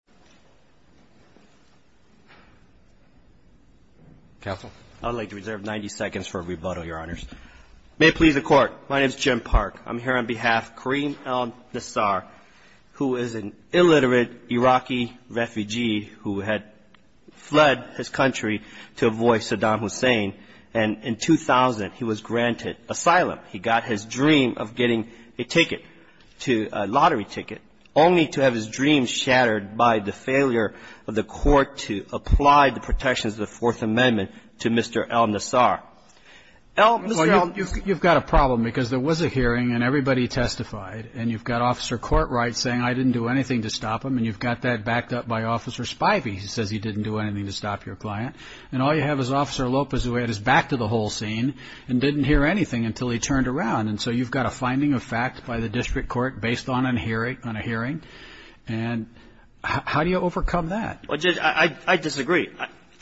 Jim Park, I'm here on behalf of Karim Al Nasser., who is an illiterate Iraqi refugee who had fled his country to avoid Saddam Hussein. And in 2000, he was granted asylum. He got his dream of getting a ticket, a lottery ticket, only to have his dreams shattered by Saddam Hussein. And so, you've got a finding of fact by the district court based on a hearing. And how do you justify the failure of the court to apply the protections of the Fourth Amendment to Mr. Al Nasser.? Well, you've got a problem, because there was a hearing, and everybody testified. And you've got Officer Courtright saying, I didn't do anything to stop him. And you've got that backed up by Officer Spivey, who says he didn't do anything to stop your client. And all you have is Officer Lopez, who had his back to the whole scene and didn't hear anything until he turned around. And so, you've got a finding of fact by the district court based on a hearing. And how do you overcome that? Well, Judge, I disagree.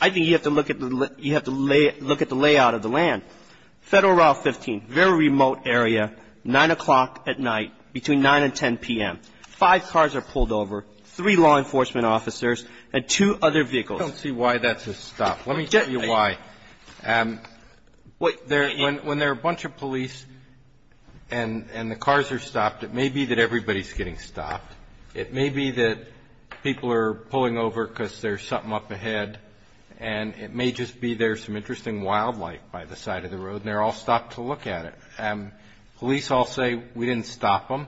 I think you have to look at the layout of the land. Federal Route 15, very remote area, 9 o'clock at night, between 9 and 10 p.m. Five cars are pulled over, three law enforcement officers, and two other vehicles. I don't see why that's a stop. Let me tell you why. When there are a bunch of police and the cars are stopped, it may be that everybody's getting stopped. It may be that people are pulling over because there's something up ahead, and it may just be there's some interesting wildlife by the side of the road, and they're all stopped to look at it. Police all say, we didn't stop him.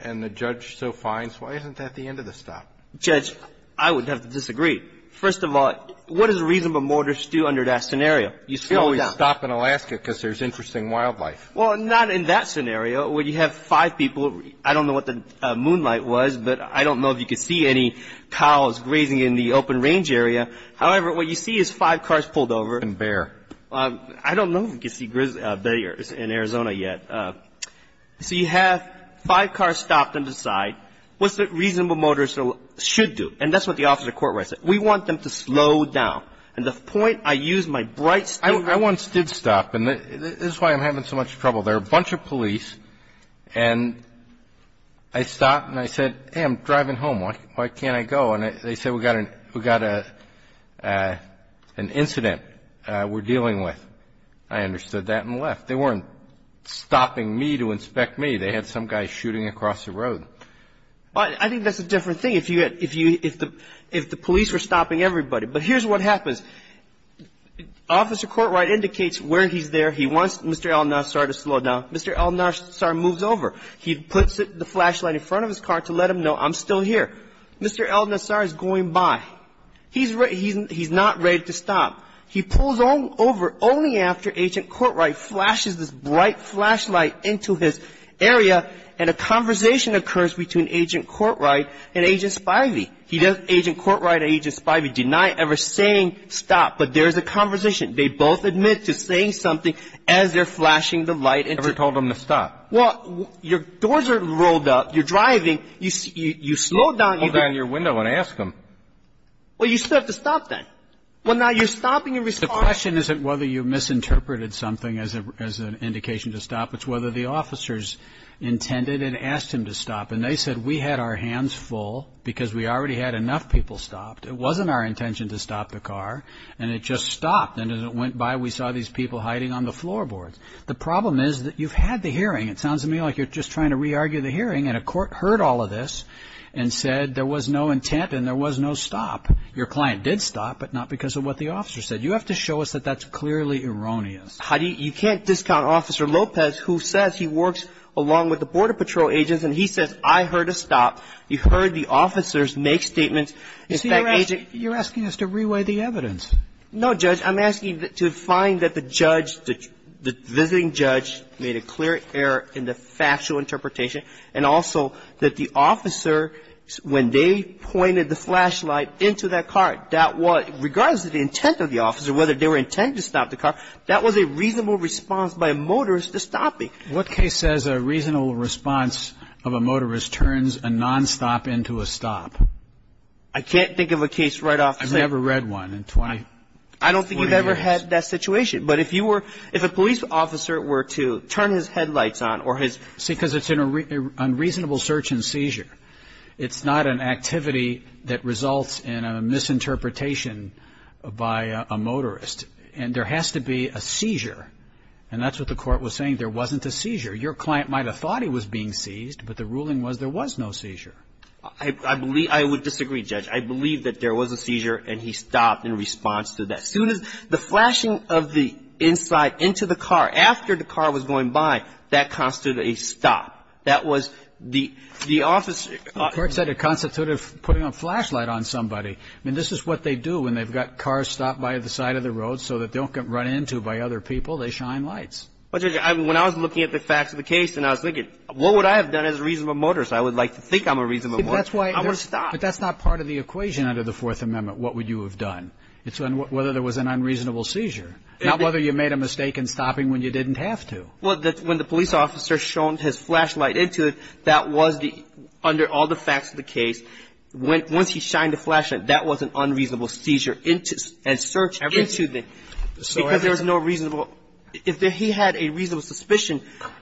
And the judge so finds, why isn't that the end of the stop? Judge, I would have to disagree. First of all, what does a reasonable motorist do under that scenario? You slow it down. They always stop in Alaska because there's interesting wildlife. Well, not in that scenario where you have five people. I don't know what the moonlight was, but I don't know if you could see any cows grazing in the open range area. However, what you see is five cars pulled over. And bear. I don't know if you could see bears in Arizona yet. So you have five cars stopped on the side. What's a reasonable motorist should do? And that's what the Office of Court Rights says. We want them to slow down. And the point I use my bright statement. I once did stop, and this is why I'm having so much trouble. There were a bunch of police, and I stopped, and I said, hey, I'm driving home. Why can't I go? And they said, we've got an incident we're dealing with. I understood that and left. They weren't stopping me to inspect me. They had some guy shooting across the road. I think that's a different thing if the police were stopping everybody. But here's what happens. Officer Court Right indicates where he's there. He wants Mr. El Nassar to slow down. Mr. El Nassar moves over. He puts the flashlight in front of his car to let him know, I'm still here. Mr. El Nassar is going by. He's not ready to stop. He pulls over only after Agent Court Right flashes this bright flashlight into his area, and a conversation occurs between Agent Court Right and Agent Spivey. Agent Court Right and Agent Spivey deny ever saying stop, but there's a conversation. They both admit to saying something as they're flashing the light. Never told him to stop. Well, your doors are rolled up. You're driving. You slow down. Hold down your window and ask him. Well, you still have to stop then. Well, now you're stopping and responding. The question isn't whether you misinterpreted something as an indication to stop. It's whether the officers intended and asked him to stop, and they said we had our hands full because we already had enough people stopped. It wasn't our intention to stop the car, and it just stopped, and as it went by we saw these people hiding on the floorboards. The problem is that you've had the hearing. It sounds to me like you're just trying to re-argue the hearing, and a court heard all of this and said there was no intent and there was no stop. Your client did stop, but not because of what the officer said. You have to show us that that's clearly erroneous. You can't discount Officer Lopez, who says he works along with the Border Patrol agents, and he says I heard a stop. You heard the officers make statements. You're asking us to re-weigh the evidence. No, Judge. I'm asking to find that the visiting judge made a clear error in the factual interpretation, and also that the officer, when they pointed the flashlight into that car, that was, regardless of the intent of the officer, whether they were intending to stop the car, that was a reasonable response by a motorist to stop me. What case says a reasonable response of a motorist turns a nonstop into a stop? I can't think of a case right off the bat. I've never read one in 20 years. I don't think you've ever had that situation. But if you were, if a police officer were to turn his headlights on or his... It's an unreasonable search and seizure. It's not an activity that results in a misinterpretation by a motorist. And there has to be a seizure, and that's what the court was saying. There wasn't a seizure. Your client might have thought he was being seized, but the ruling was there was no seizure. I would disagree, Judge. I believe that there was a seizure and he stopped in response to that. As soon as the flashing of the inside into the car, after the car was going by, that constituted a stop. That was the officer. The court said it constituted putting a flashlight on somebody. I mean, this is what they do when they've got cars stopped by the side of the road so that they don't get run into by other people. They shine lights. But, Judge, when I was looking at the facts of the case and I was thinking, what would I have done as a reasonable motorist? I would like to think I'm a reasonable motorist. I would stop. But that's not part of the equation under the Fourth Amendment, what would you have done. It's whether there was an unreasonable seizure, not whether you made a mistake in stopping when you didn't have to. Well, when the police officer shone his flashlight into it, that was the, under all the facts of the case, once he shined the flashlight, that was an unreasonable seizure and search into the, because there was no reasonable, if he had a reasonable suspicion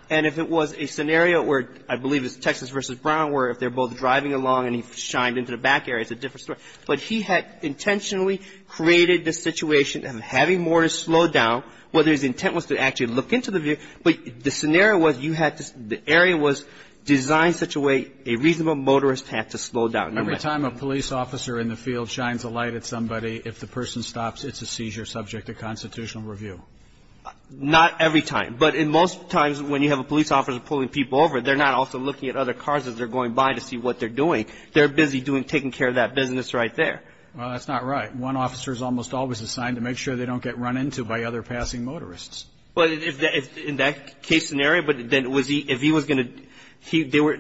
and if it was a scenario where, I believe it's Texas versus Brown, where if they're both driving along and he shined into the back area, it's a different story. But he had intentionally created the situation of having more to slow down, whether his intent was to actually look into the vehicle. But the scenario was you had to, the area was designed such a way a reasonable motorist had to slow down. Every time a police officer in the field shines a light at somebody, if the person stops, it's a seizure subject to constitutional review. Not every time. But in most times when you have a police officer pulling people over, they're not also looking at other cars as they're going by to see what they're doing. They're busy doing, taking care of that business right there. Well, that's not right. One officer is almost always assigned to make sure they don't get run into by other passing motorists. Well, in that case scenario, but then was he, if he was going to, he, they were,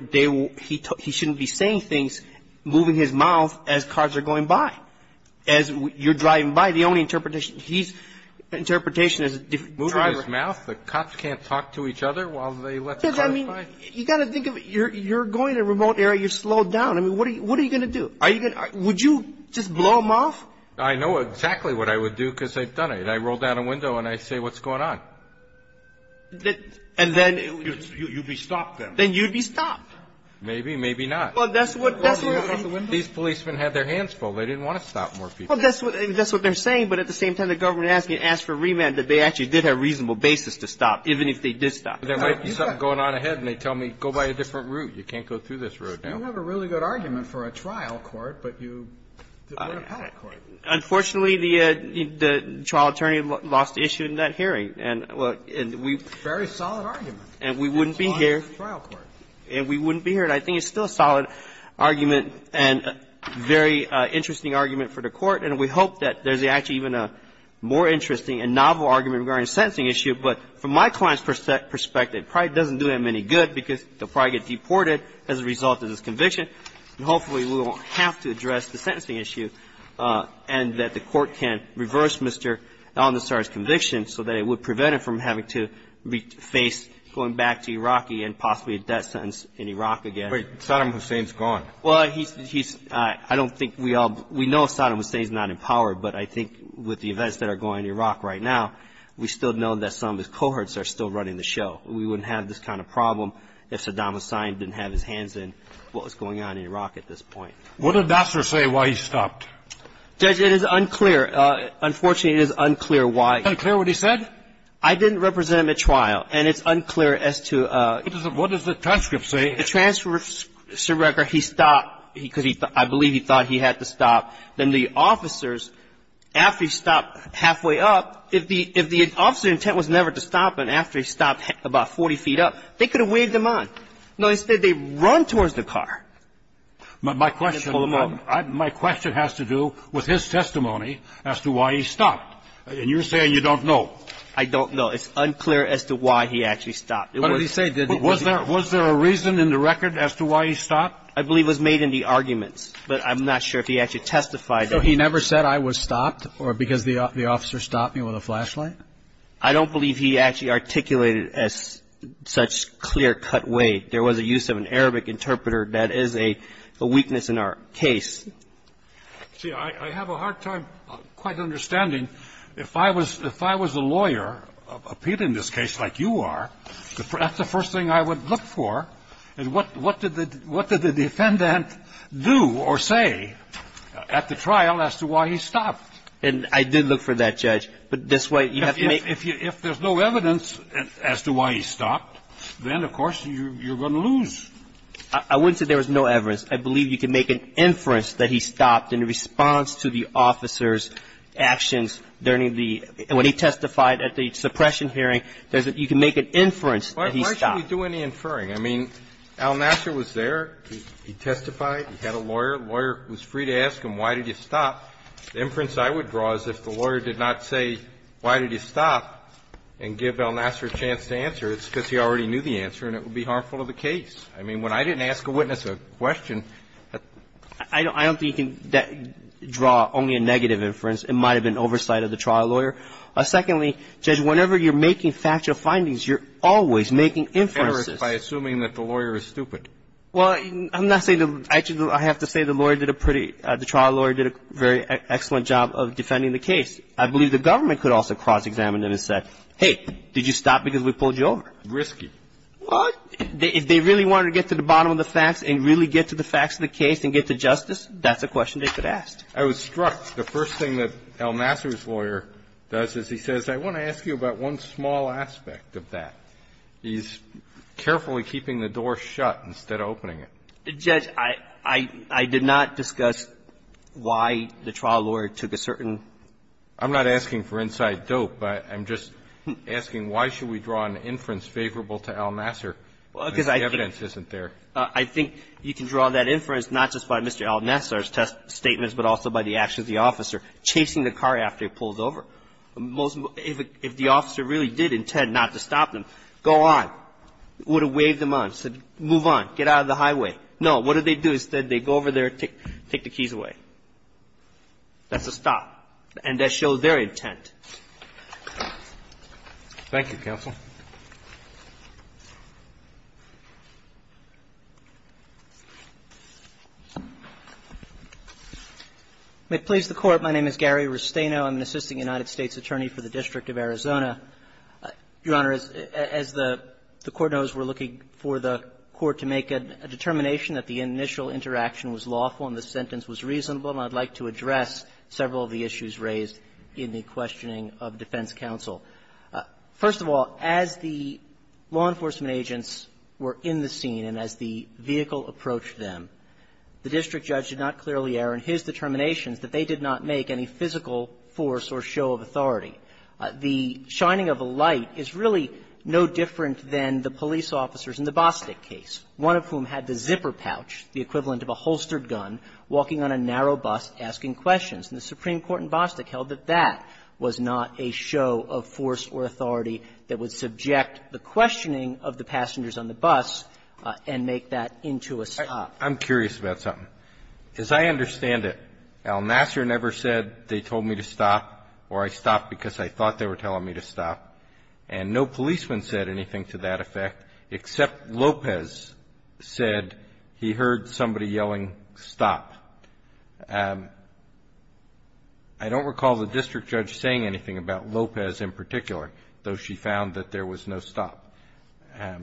he shouldn't be saying things, moving his mouth as cars are going by, as you're driving by. The only interpretation, his interpretation is moving his mouth. The cops can't talk to each other while they let the cars by? Because, I mean, you got to think of it. You're going in a remote area. You're slowed down. I mean, what are you going to do? Are you going to, would you just blow them off? I know exactly what I would do because they've done it. I roll down a window and I say, what's going on? And then? You'd be stopped then. Then you'd be stopped. Maybe, maybe not. Well, that's what. These policemen had their hands full. They didn't want to stop more people. Well, that's what they're saying, but at the same time the government asked for remand that they actually did have a reasonable basis to stop, even if they did stop. There might be something going on ahead and they tell me, go by a different route. You can't go through this route. You have a really good argument for a trial court, but you did not have a patent court. Unfortunately, the trial attorney lost the issue in that hearing. And we. Very solid argument. And we wouldn't be here. And we wouldn't be here. And I think it's still a solid argument and a very interesting argument for the court. And we hope that there's actually even a more interesting and novel argument regarding a sentencing issue. But from my client's perspective, it probably doesn't do him any good because he'll probably get deported as a result of this conviction. And hopefully we won't have to address the sentencing issue and that the court can reverse Mr. Al-Nusrai's conviction so that it would prevent him from having to face going back to Iraqi and possibly a death sentence in Iraq again. Wait. Saddam Hussein's gone. Well, he's. I don't think we all. We know Saddam Hussein's not in power, but I think with the events that are going on in Iraq right now, we still know that some of his cohorts are still running the show. We wouldn't have this kind of problem if Saddam Hussein didn't have his hands in what was going on in Iraq at this point. What did Dasser say why he stopped? Judge, it is unclear. Unfortunately, it is unclear why. Is it unclear what he said? I didn't represent him at trial. And it's unclear as to. What does the transcript say? The transcript says he stopped because I believe he thought he had to stop. Then the officers, after he stopped halfway up, if the officer's intent was never to stop and after he stopped about 40 feet up, they could have waved him on. No, instead they run towards the car. My question has to do with his testimony as to why he stopped. And you're saying you don't know. I don't know. It's unclear as to why he actually stopped. What did he say? Was there a reason in the record as to why he stopped? I believe it was made in the arguments. But I'm not sure if he actually testified. So he never said I was stopped or because the officer stopped me with a flashlight? I don't believe he actually articulated it as such clear-cut way. There was a use of an Arabic interpreter. That is a weakness in our case. See, I have a hard time quite understanding. If I was the lawyer appealing this case like you are, that's the first thing I would look for. And what did the defendant do or say at the trial as to why he stopped? And I did look for that, Judge. But this way you have to make If there's no evidence as to why he stopped, then, of course, you're going to lose. I wouldn't say there was no evidence. I believe you can make an inference that he stopped in response to the officer's actions during the – when he testified at the suppression hearing. You can make an inference that he stopped. We don't really do any inferring. I mean, Al Nasser was there. He testified. He had a lawyer. The lawyer was free to ask him why did you stop. The inference I would draw is if the lawyer did not say why did you stop and give Al Nasser a chance to answer, it's because he already knew the answer and it would be harmful to the case. I mean, when I didn't ask a witness a question, that's – I don't think you can draw only a negative inference. It might have been oversight of the trial lawyer. Secondly, Judge, whenever you're making factual findings, you're always making inferences. By assuming that the lawyer is stupid. Well, I'm not saying – actually, I have to say the lawyer did a pretty – the trial lawyer did a very excellent job of defending the case. I believe the government could also cross-examine him and say, hey, did you stop because we pulled you over. Risky. Well, if they really wanted to get to the bottom of the facts and really get to the facts of the case and get to justice, that's a question they could ask. I was struck. The first thing that Al Nasser's lawyer does is he says, I want to ask you about one small aspect of that. He's carefully keeping the door shut instead of opening it. Judge, I – I did not discuss why the trial lawyer took a certain – I'm not asking for inside dope. I'm just asking why should we draw an inference favorable to Al Nasser? Because the evidence isn't there. I think you can draw that inference not just by Mr. Al Nasser's test statements, but also by the actions of the officer chasing the car after he pulls over. If the officer really did intend not to stop them, go on. Would have waved them on, said move on, get out of the highway. No. What did they do? Instead, they go over there, take the keys away. That's a stop. And that shows their intent. Thank you, counsel. May it please the Court, my name is Gary Restaino. I'm an assistant United States attorney for the District of Arizona. Your Honor, as the Court knows, we're looking for the Court to make a determination that the initial interaction was lawful and the sentence was reasonable, and I'd like to address several of the issues raised in the questioning of defense counsel. First of all, as the law enforcement agents were in the scene and as the vehicle approached them, the district judge did not clearly err in his determinations that they did not make any physical force or show of authority. The shining of a light is really no different than the police officers in the Bostic case, one of whom had the zipper pouch, the equivalent of a holstered gun, walking on a narrow bus, asking questions. And the Supreme Court in Bostic held that that was not a show of force or authority that would subject the questioning of the passengers on the bus and make that into a stop. I'm curious about something. As I understand it, Al Nasser never said they told me to stop or I stopped because I thought they were telling me to stop, and no policeman said anything to that effect except Lopez said he heard somebody yelling, stop. I don't recall the district judge saying anything about Lopez in particular, though she found that there was no stop. You're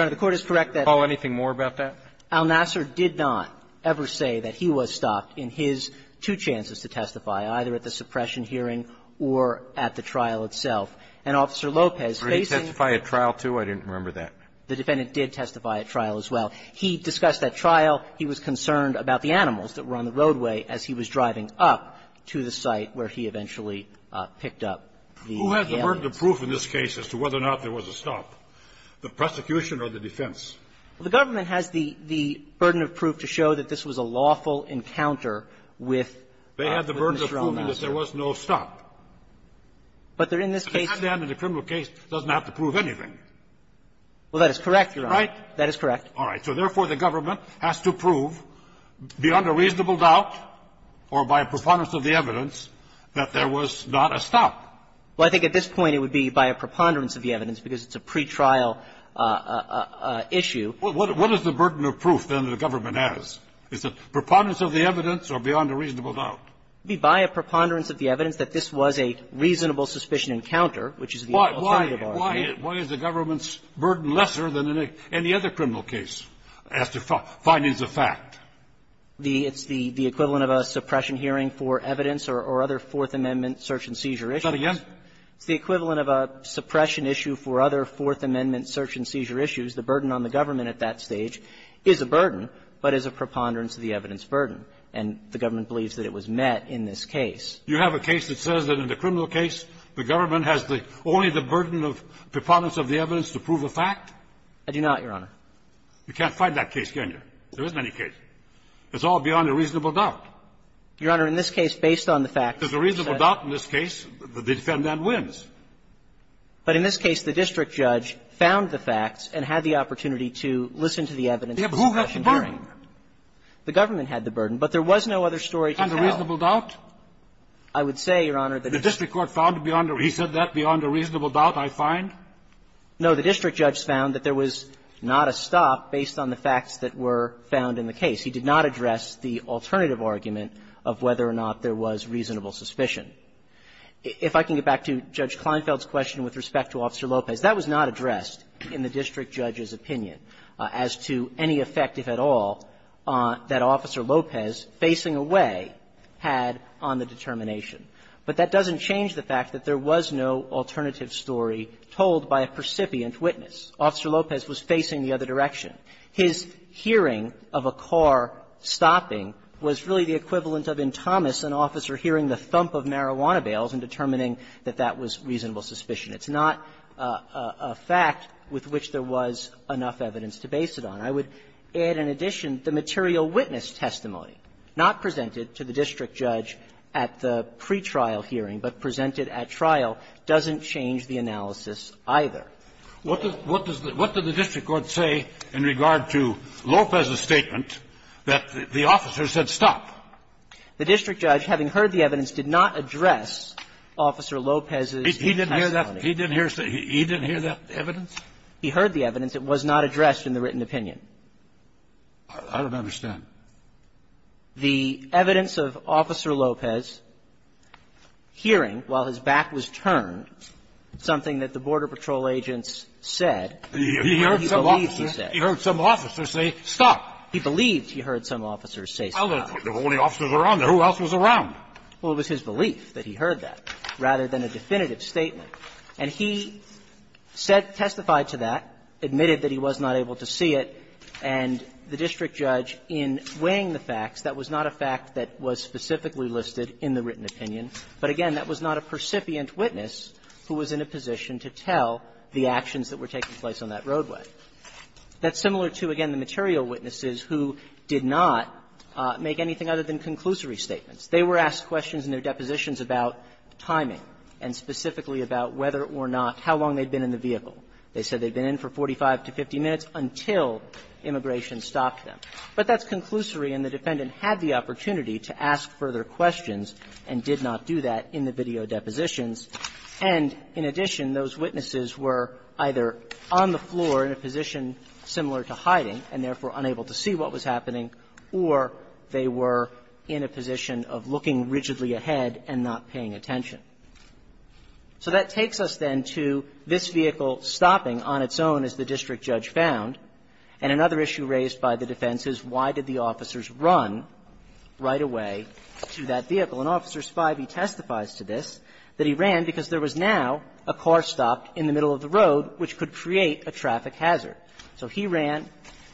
right. The Court is correct that Al Nasser did not ever say that he was stopped in his two chances to testify, either at the suppression hearing or at the trial itself. And Officer Lopez, facing the trial as well, he discussed that trial. He was concerned about the animals that were on the roadway as he was driving up to the site where he eventually picked up the animals. Who has the burden of proof in this case as to whether or not there was a stop? The prosecution or the defense? The government has the burden of proof to show that this was a lawful encounter with Mr. Al Nasser. They had the burden of proof that there was no stop. But there in this case the criminal case doesn't have to prove anything. Well, that is correct, Your Honor. Right? That is correct. All right. So, therefore, the government has to prove beyond a reasonable doubt or by a preponderance of the evidence that there was not a stop. Well, I think at this point it would be by a preponderance of the evidence because it's a pretrial issue. Well, what is the burden of proof, then, that the government has? Is it preponderance of the evidence or beyond a reasonable doubt? It would be by a preponderance of the evidence that this was a reasonable suspicion encounter, which is the alternative argument. Why is the government's burden lesser than in any other criminal case as to findings of fact? It's the equivalent of a suppression hearing for evidence or other Fourth Amendment search and seizure issues. Say that again? It's the equivalent of a suppression issue for other Fourth Amendment search and seizure issues. The burden on the government at that stage is a burden, but is a preponderance of the evidence burden. And the government believes that it was met in this case. You have a case that says that in the criminal case, the government has the only the burden of preponderance of the evidence to prove a fact? I do not, Your Honor. You can't fight that case, can you? There isn't any case. It's all beyond a reasonable doubt. Your Honor, in this case, based on the fact that there's a reasonable doubt in this case, the defendant wins. But in this case, the district judge found the facts and had the opportunity to listen to the evidence of the suppression hearing. The government had the burden, but there was no other story to tell. Beyond a reasonable doubt? I would say, Your Honor, that the district judge found beyond a reasonable doubt, I find. No. The district judge found that there was not a stop based on the facts that were found in the case. He did not address the alternative argument of whether or not there was reasonable suspicion. If I can get back to Judge Kleinfeld's question with respect to Officer Lopez, that was not addressed in the district judge's opinion as to any effect, if at all, that Officer Lopez, facing away, had on the determination. But that doesn't change the fact that there was no alternative story told by a percipient witness. Officer Lopez was facing the other direction. His hearing of a car stopping was really the equivalent of, in Thomas, an officer hearing the thump of marijuana bales and determining that that was reasonable suspicion. It's not a fact with which there was enough evidence to base it on. I would add, in addition, the material witness testimony, not presented to the district judge at the pretrial hearing, but presented at trial, doesn't change the analysis either. What does the district court say in regard to Lopez's statement that the officer said stop? The district judge, having heard the evidence, did not address Officer Lopez's testimony. He didn't hear that evidence? He heard the evidence. It was not addressed in the written opinion. I don't understand. The evidence of Officer Lopez hearing, while his back was turned, something that the Border Patrol agents said, he believes he said. He heard some officers say stop. He believed he heard some officers say stop. Well, there were only officers around. Who else was around? Well, it was his belief that he heard that, rather than a definitive statement. And he said, testified to that, admitted that he was not able to see it, and the district judge, in weighing the facts, that was not a fact that was specifically listed in the written opinion. But again, that was not a percipient witness who was in a position to tell the actions that were taking place on that roadway. That's similar to, again, the material witnesses who did not make anything other than conclusory statements. They were asked questions in their depositions about timing, and specifically about whether or not, how long they'd been in the vehicle. They said they'd been in for 45 to 50 minutes until immigration stopped them. But that's conclusory, and the defendant had the opportunity to ask further questions and did not do that in the video depositions. And in addition, those witnesses were either on the floor in a position similar to hiding, and therefore unable to see what was happening, or they were in a position of looking rigidly ahead and not paying attention. So that takes us, then, to this vehicle stopping on its own, as the district judge found. And another issue raised by the defense is, why did the officers run right away to that vehicle? And Officer Spivey testifies to this, that he ran because there was now a car stopped in the middle of the road, which could create a traffic hazard. So he ran,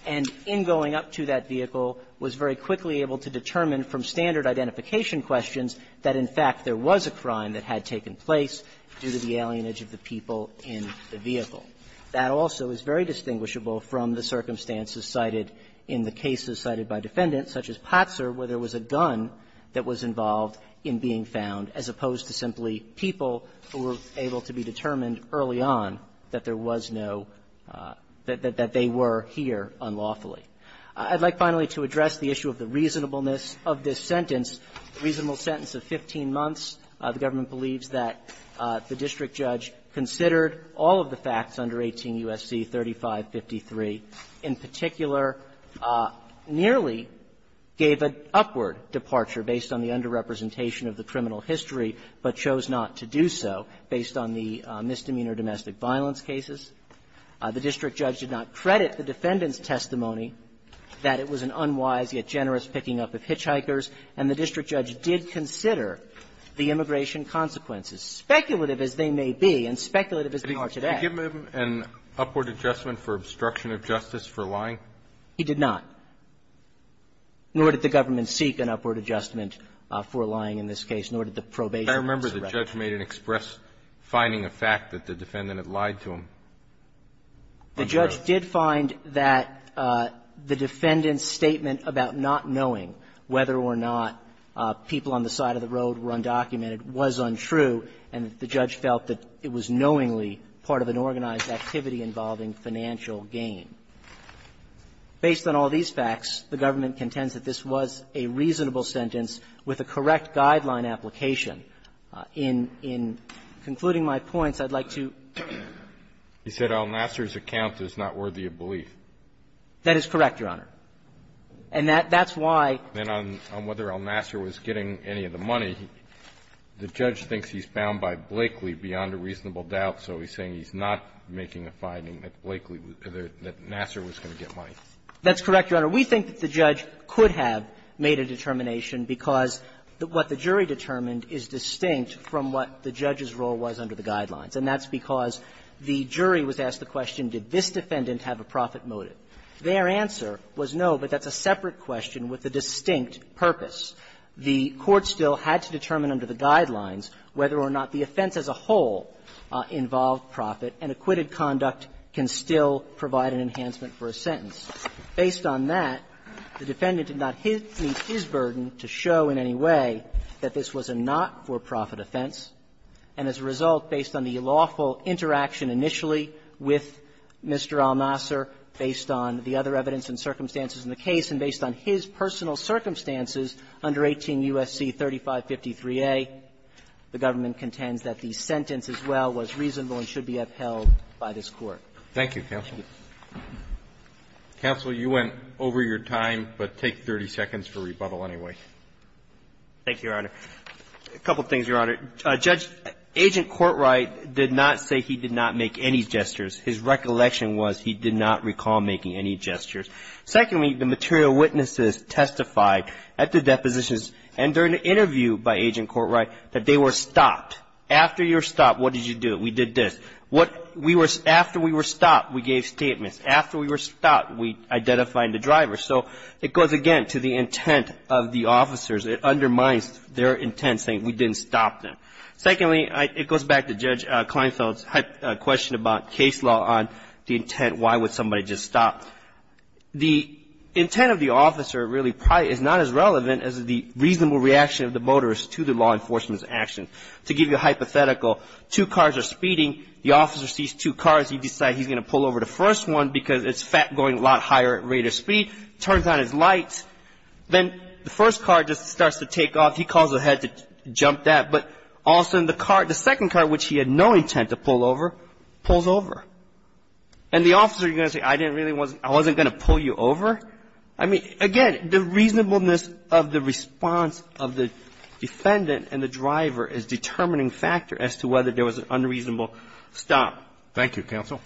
and in going up to that vehicle, was very quickly able to determine from standard identification questions that, in fact, there was a crime that had taken place due to the alienage of the people in the vehicle. That also is very distinguishable from the circumstances cited in the cases cited by defendants, such as Potser, where there was a gun that was involved in being found, as opposed to simply people who were able to be determined early on that there was no – that they were here unlawfully. I'd like, finally, to address the issue of the reasonableness of this sentence, the reasonable sentence of 15 months. The government believes that the district judge considered all of the facts under 18 U.S.C. 3553, in particular, nearly gave an upward departure based on the underrepresentation of the criminal history, but chose not to do so based on the misdemeanor domestic violence cases. The district judge did not credit the defendant's testimony that it was an unwise, yet generous, picking up of hitchhikers, and the district judge did consider the immigration consequences, speculative as they may be and speculative as they are today. Can you give him an upward adjustment for obstruction of justice for lying? He did not, nor did the government seek an upward adjustment for lying in this case, nor did the probation officer. I'll get back to him. The judge did find that the defendant's statement about not knowing whether or not people on the side of the road were undocumented was untrue, and the judge felt that it was knowingly part of an organized activity involving financial gain. Based on all these facts, the government contends that this was a reasonable sentence with a correct guideline application. In concluding my points, I'd like to ---- He said El Nasser's account is not worthy of belief. That is correct, Your Honor. And that's why ---- And on whether El Nasser was getting any of the money, the judge thinks he's bound by Blakely beyond a reasonable doubt, so he's saying he's not making a finding that Blakely was going to get money. That's correct, Your Honor. We think that the judge could have made a determination because what the jury determined is distinct from what the judge's role was under the guidelines, and that's because the jury was asked the question, did this defendant have a profit motive? Their answer was no, but that's a separate question with a distinct purpose. The court still had to determine under the guidelines whether or not the offense as a whole involved profit, and acquitted conduct can still provide an enhancement for a sentence. Based on that, the defendant did not meet his burden to show in any way that this was a not-for-profit offense, and as a result, based on the lawful interaction initially with Mr. El Nasser, based on the other evidence and circumstances in the case, and based on his personal circumstances under 18 U.S.C. 3553a, the government contends that the sentence as well was reasonable and should be upheld by this Court. Thank you, counsel. Counsel, you went over your time, but take 30 seconds for rebuttal anyway. Thank you, Your Honor. A couple of things, Your Honor. Judge, Agent Courtright did not say he did not make any gestures. His recollection was he did not recall making any gestures. Secondly, the material witnesses testified at the depositions and during the interview by Agent Courtright that they were stopped. After you were stopped, what did you do? We did this. After we were stopped, we gave statements. After we were stopped, we identified the driver. So it goes again to the intent of the officers. It undermines their intent, saying we didn't stop them. Secondly, it goes back to Judge Kleinfeld's question about case law on the intent, why would somebody just stop? The intent of the officer really probably is not as relevant as the reasonable reaction of the motorist to the law enforcement's action. To give you a hypothetical, two cars are speeding. The officer sees two cars. He decides he's going to pull over the first one because it's going a lot higher at greater speed, turns on his lights. Then the first car just starts to take off. He calls ahead to jump that. But all of a sudden, the car, the second car, which he had no intent to pull over, pulls over. And the officer, you're going to say, I didn't really want to – I wasn't going to pull you over? I mean, again, the reasonableness of the response of the defendant and the driver is a determining factor as to whether there was an unreasonable stop. Thank you, counsel.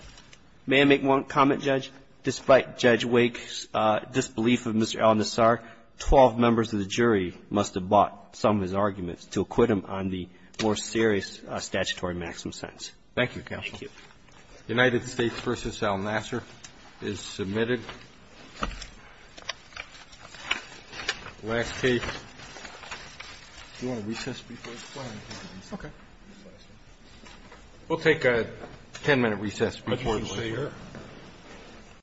May I make one comment, Judge? Despite Judge Wake's disbelief of Mr. Al-Nassar, 12 members of the jury must have bought some of his arguments to acquit him on the more serious statutory maximum sentence. Thank you, counsel. Thank you. United States v. Al Nassar is submitted. Last case. Do you want to recess before we go? Okay. We'll take a 10-minute recess before the hearing.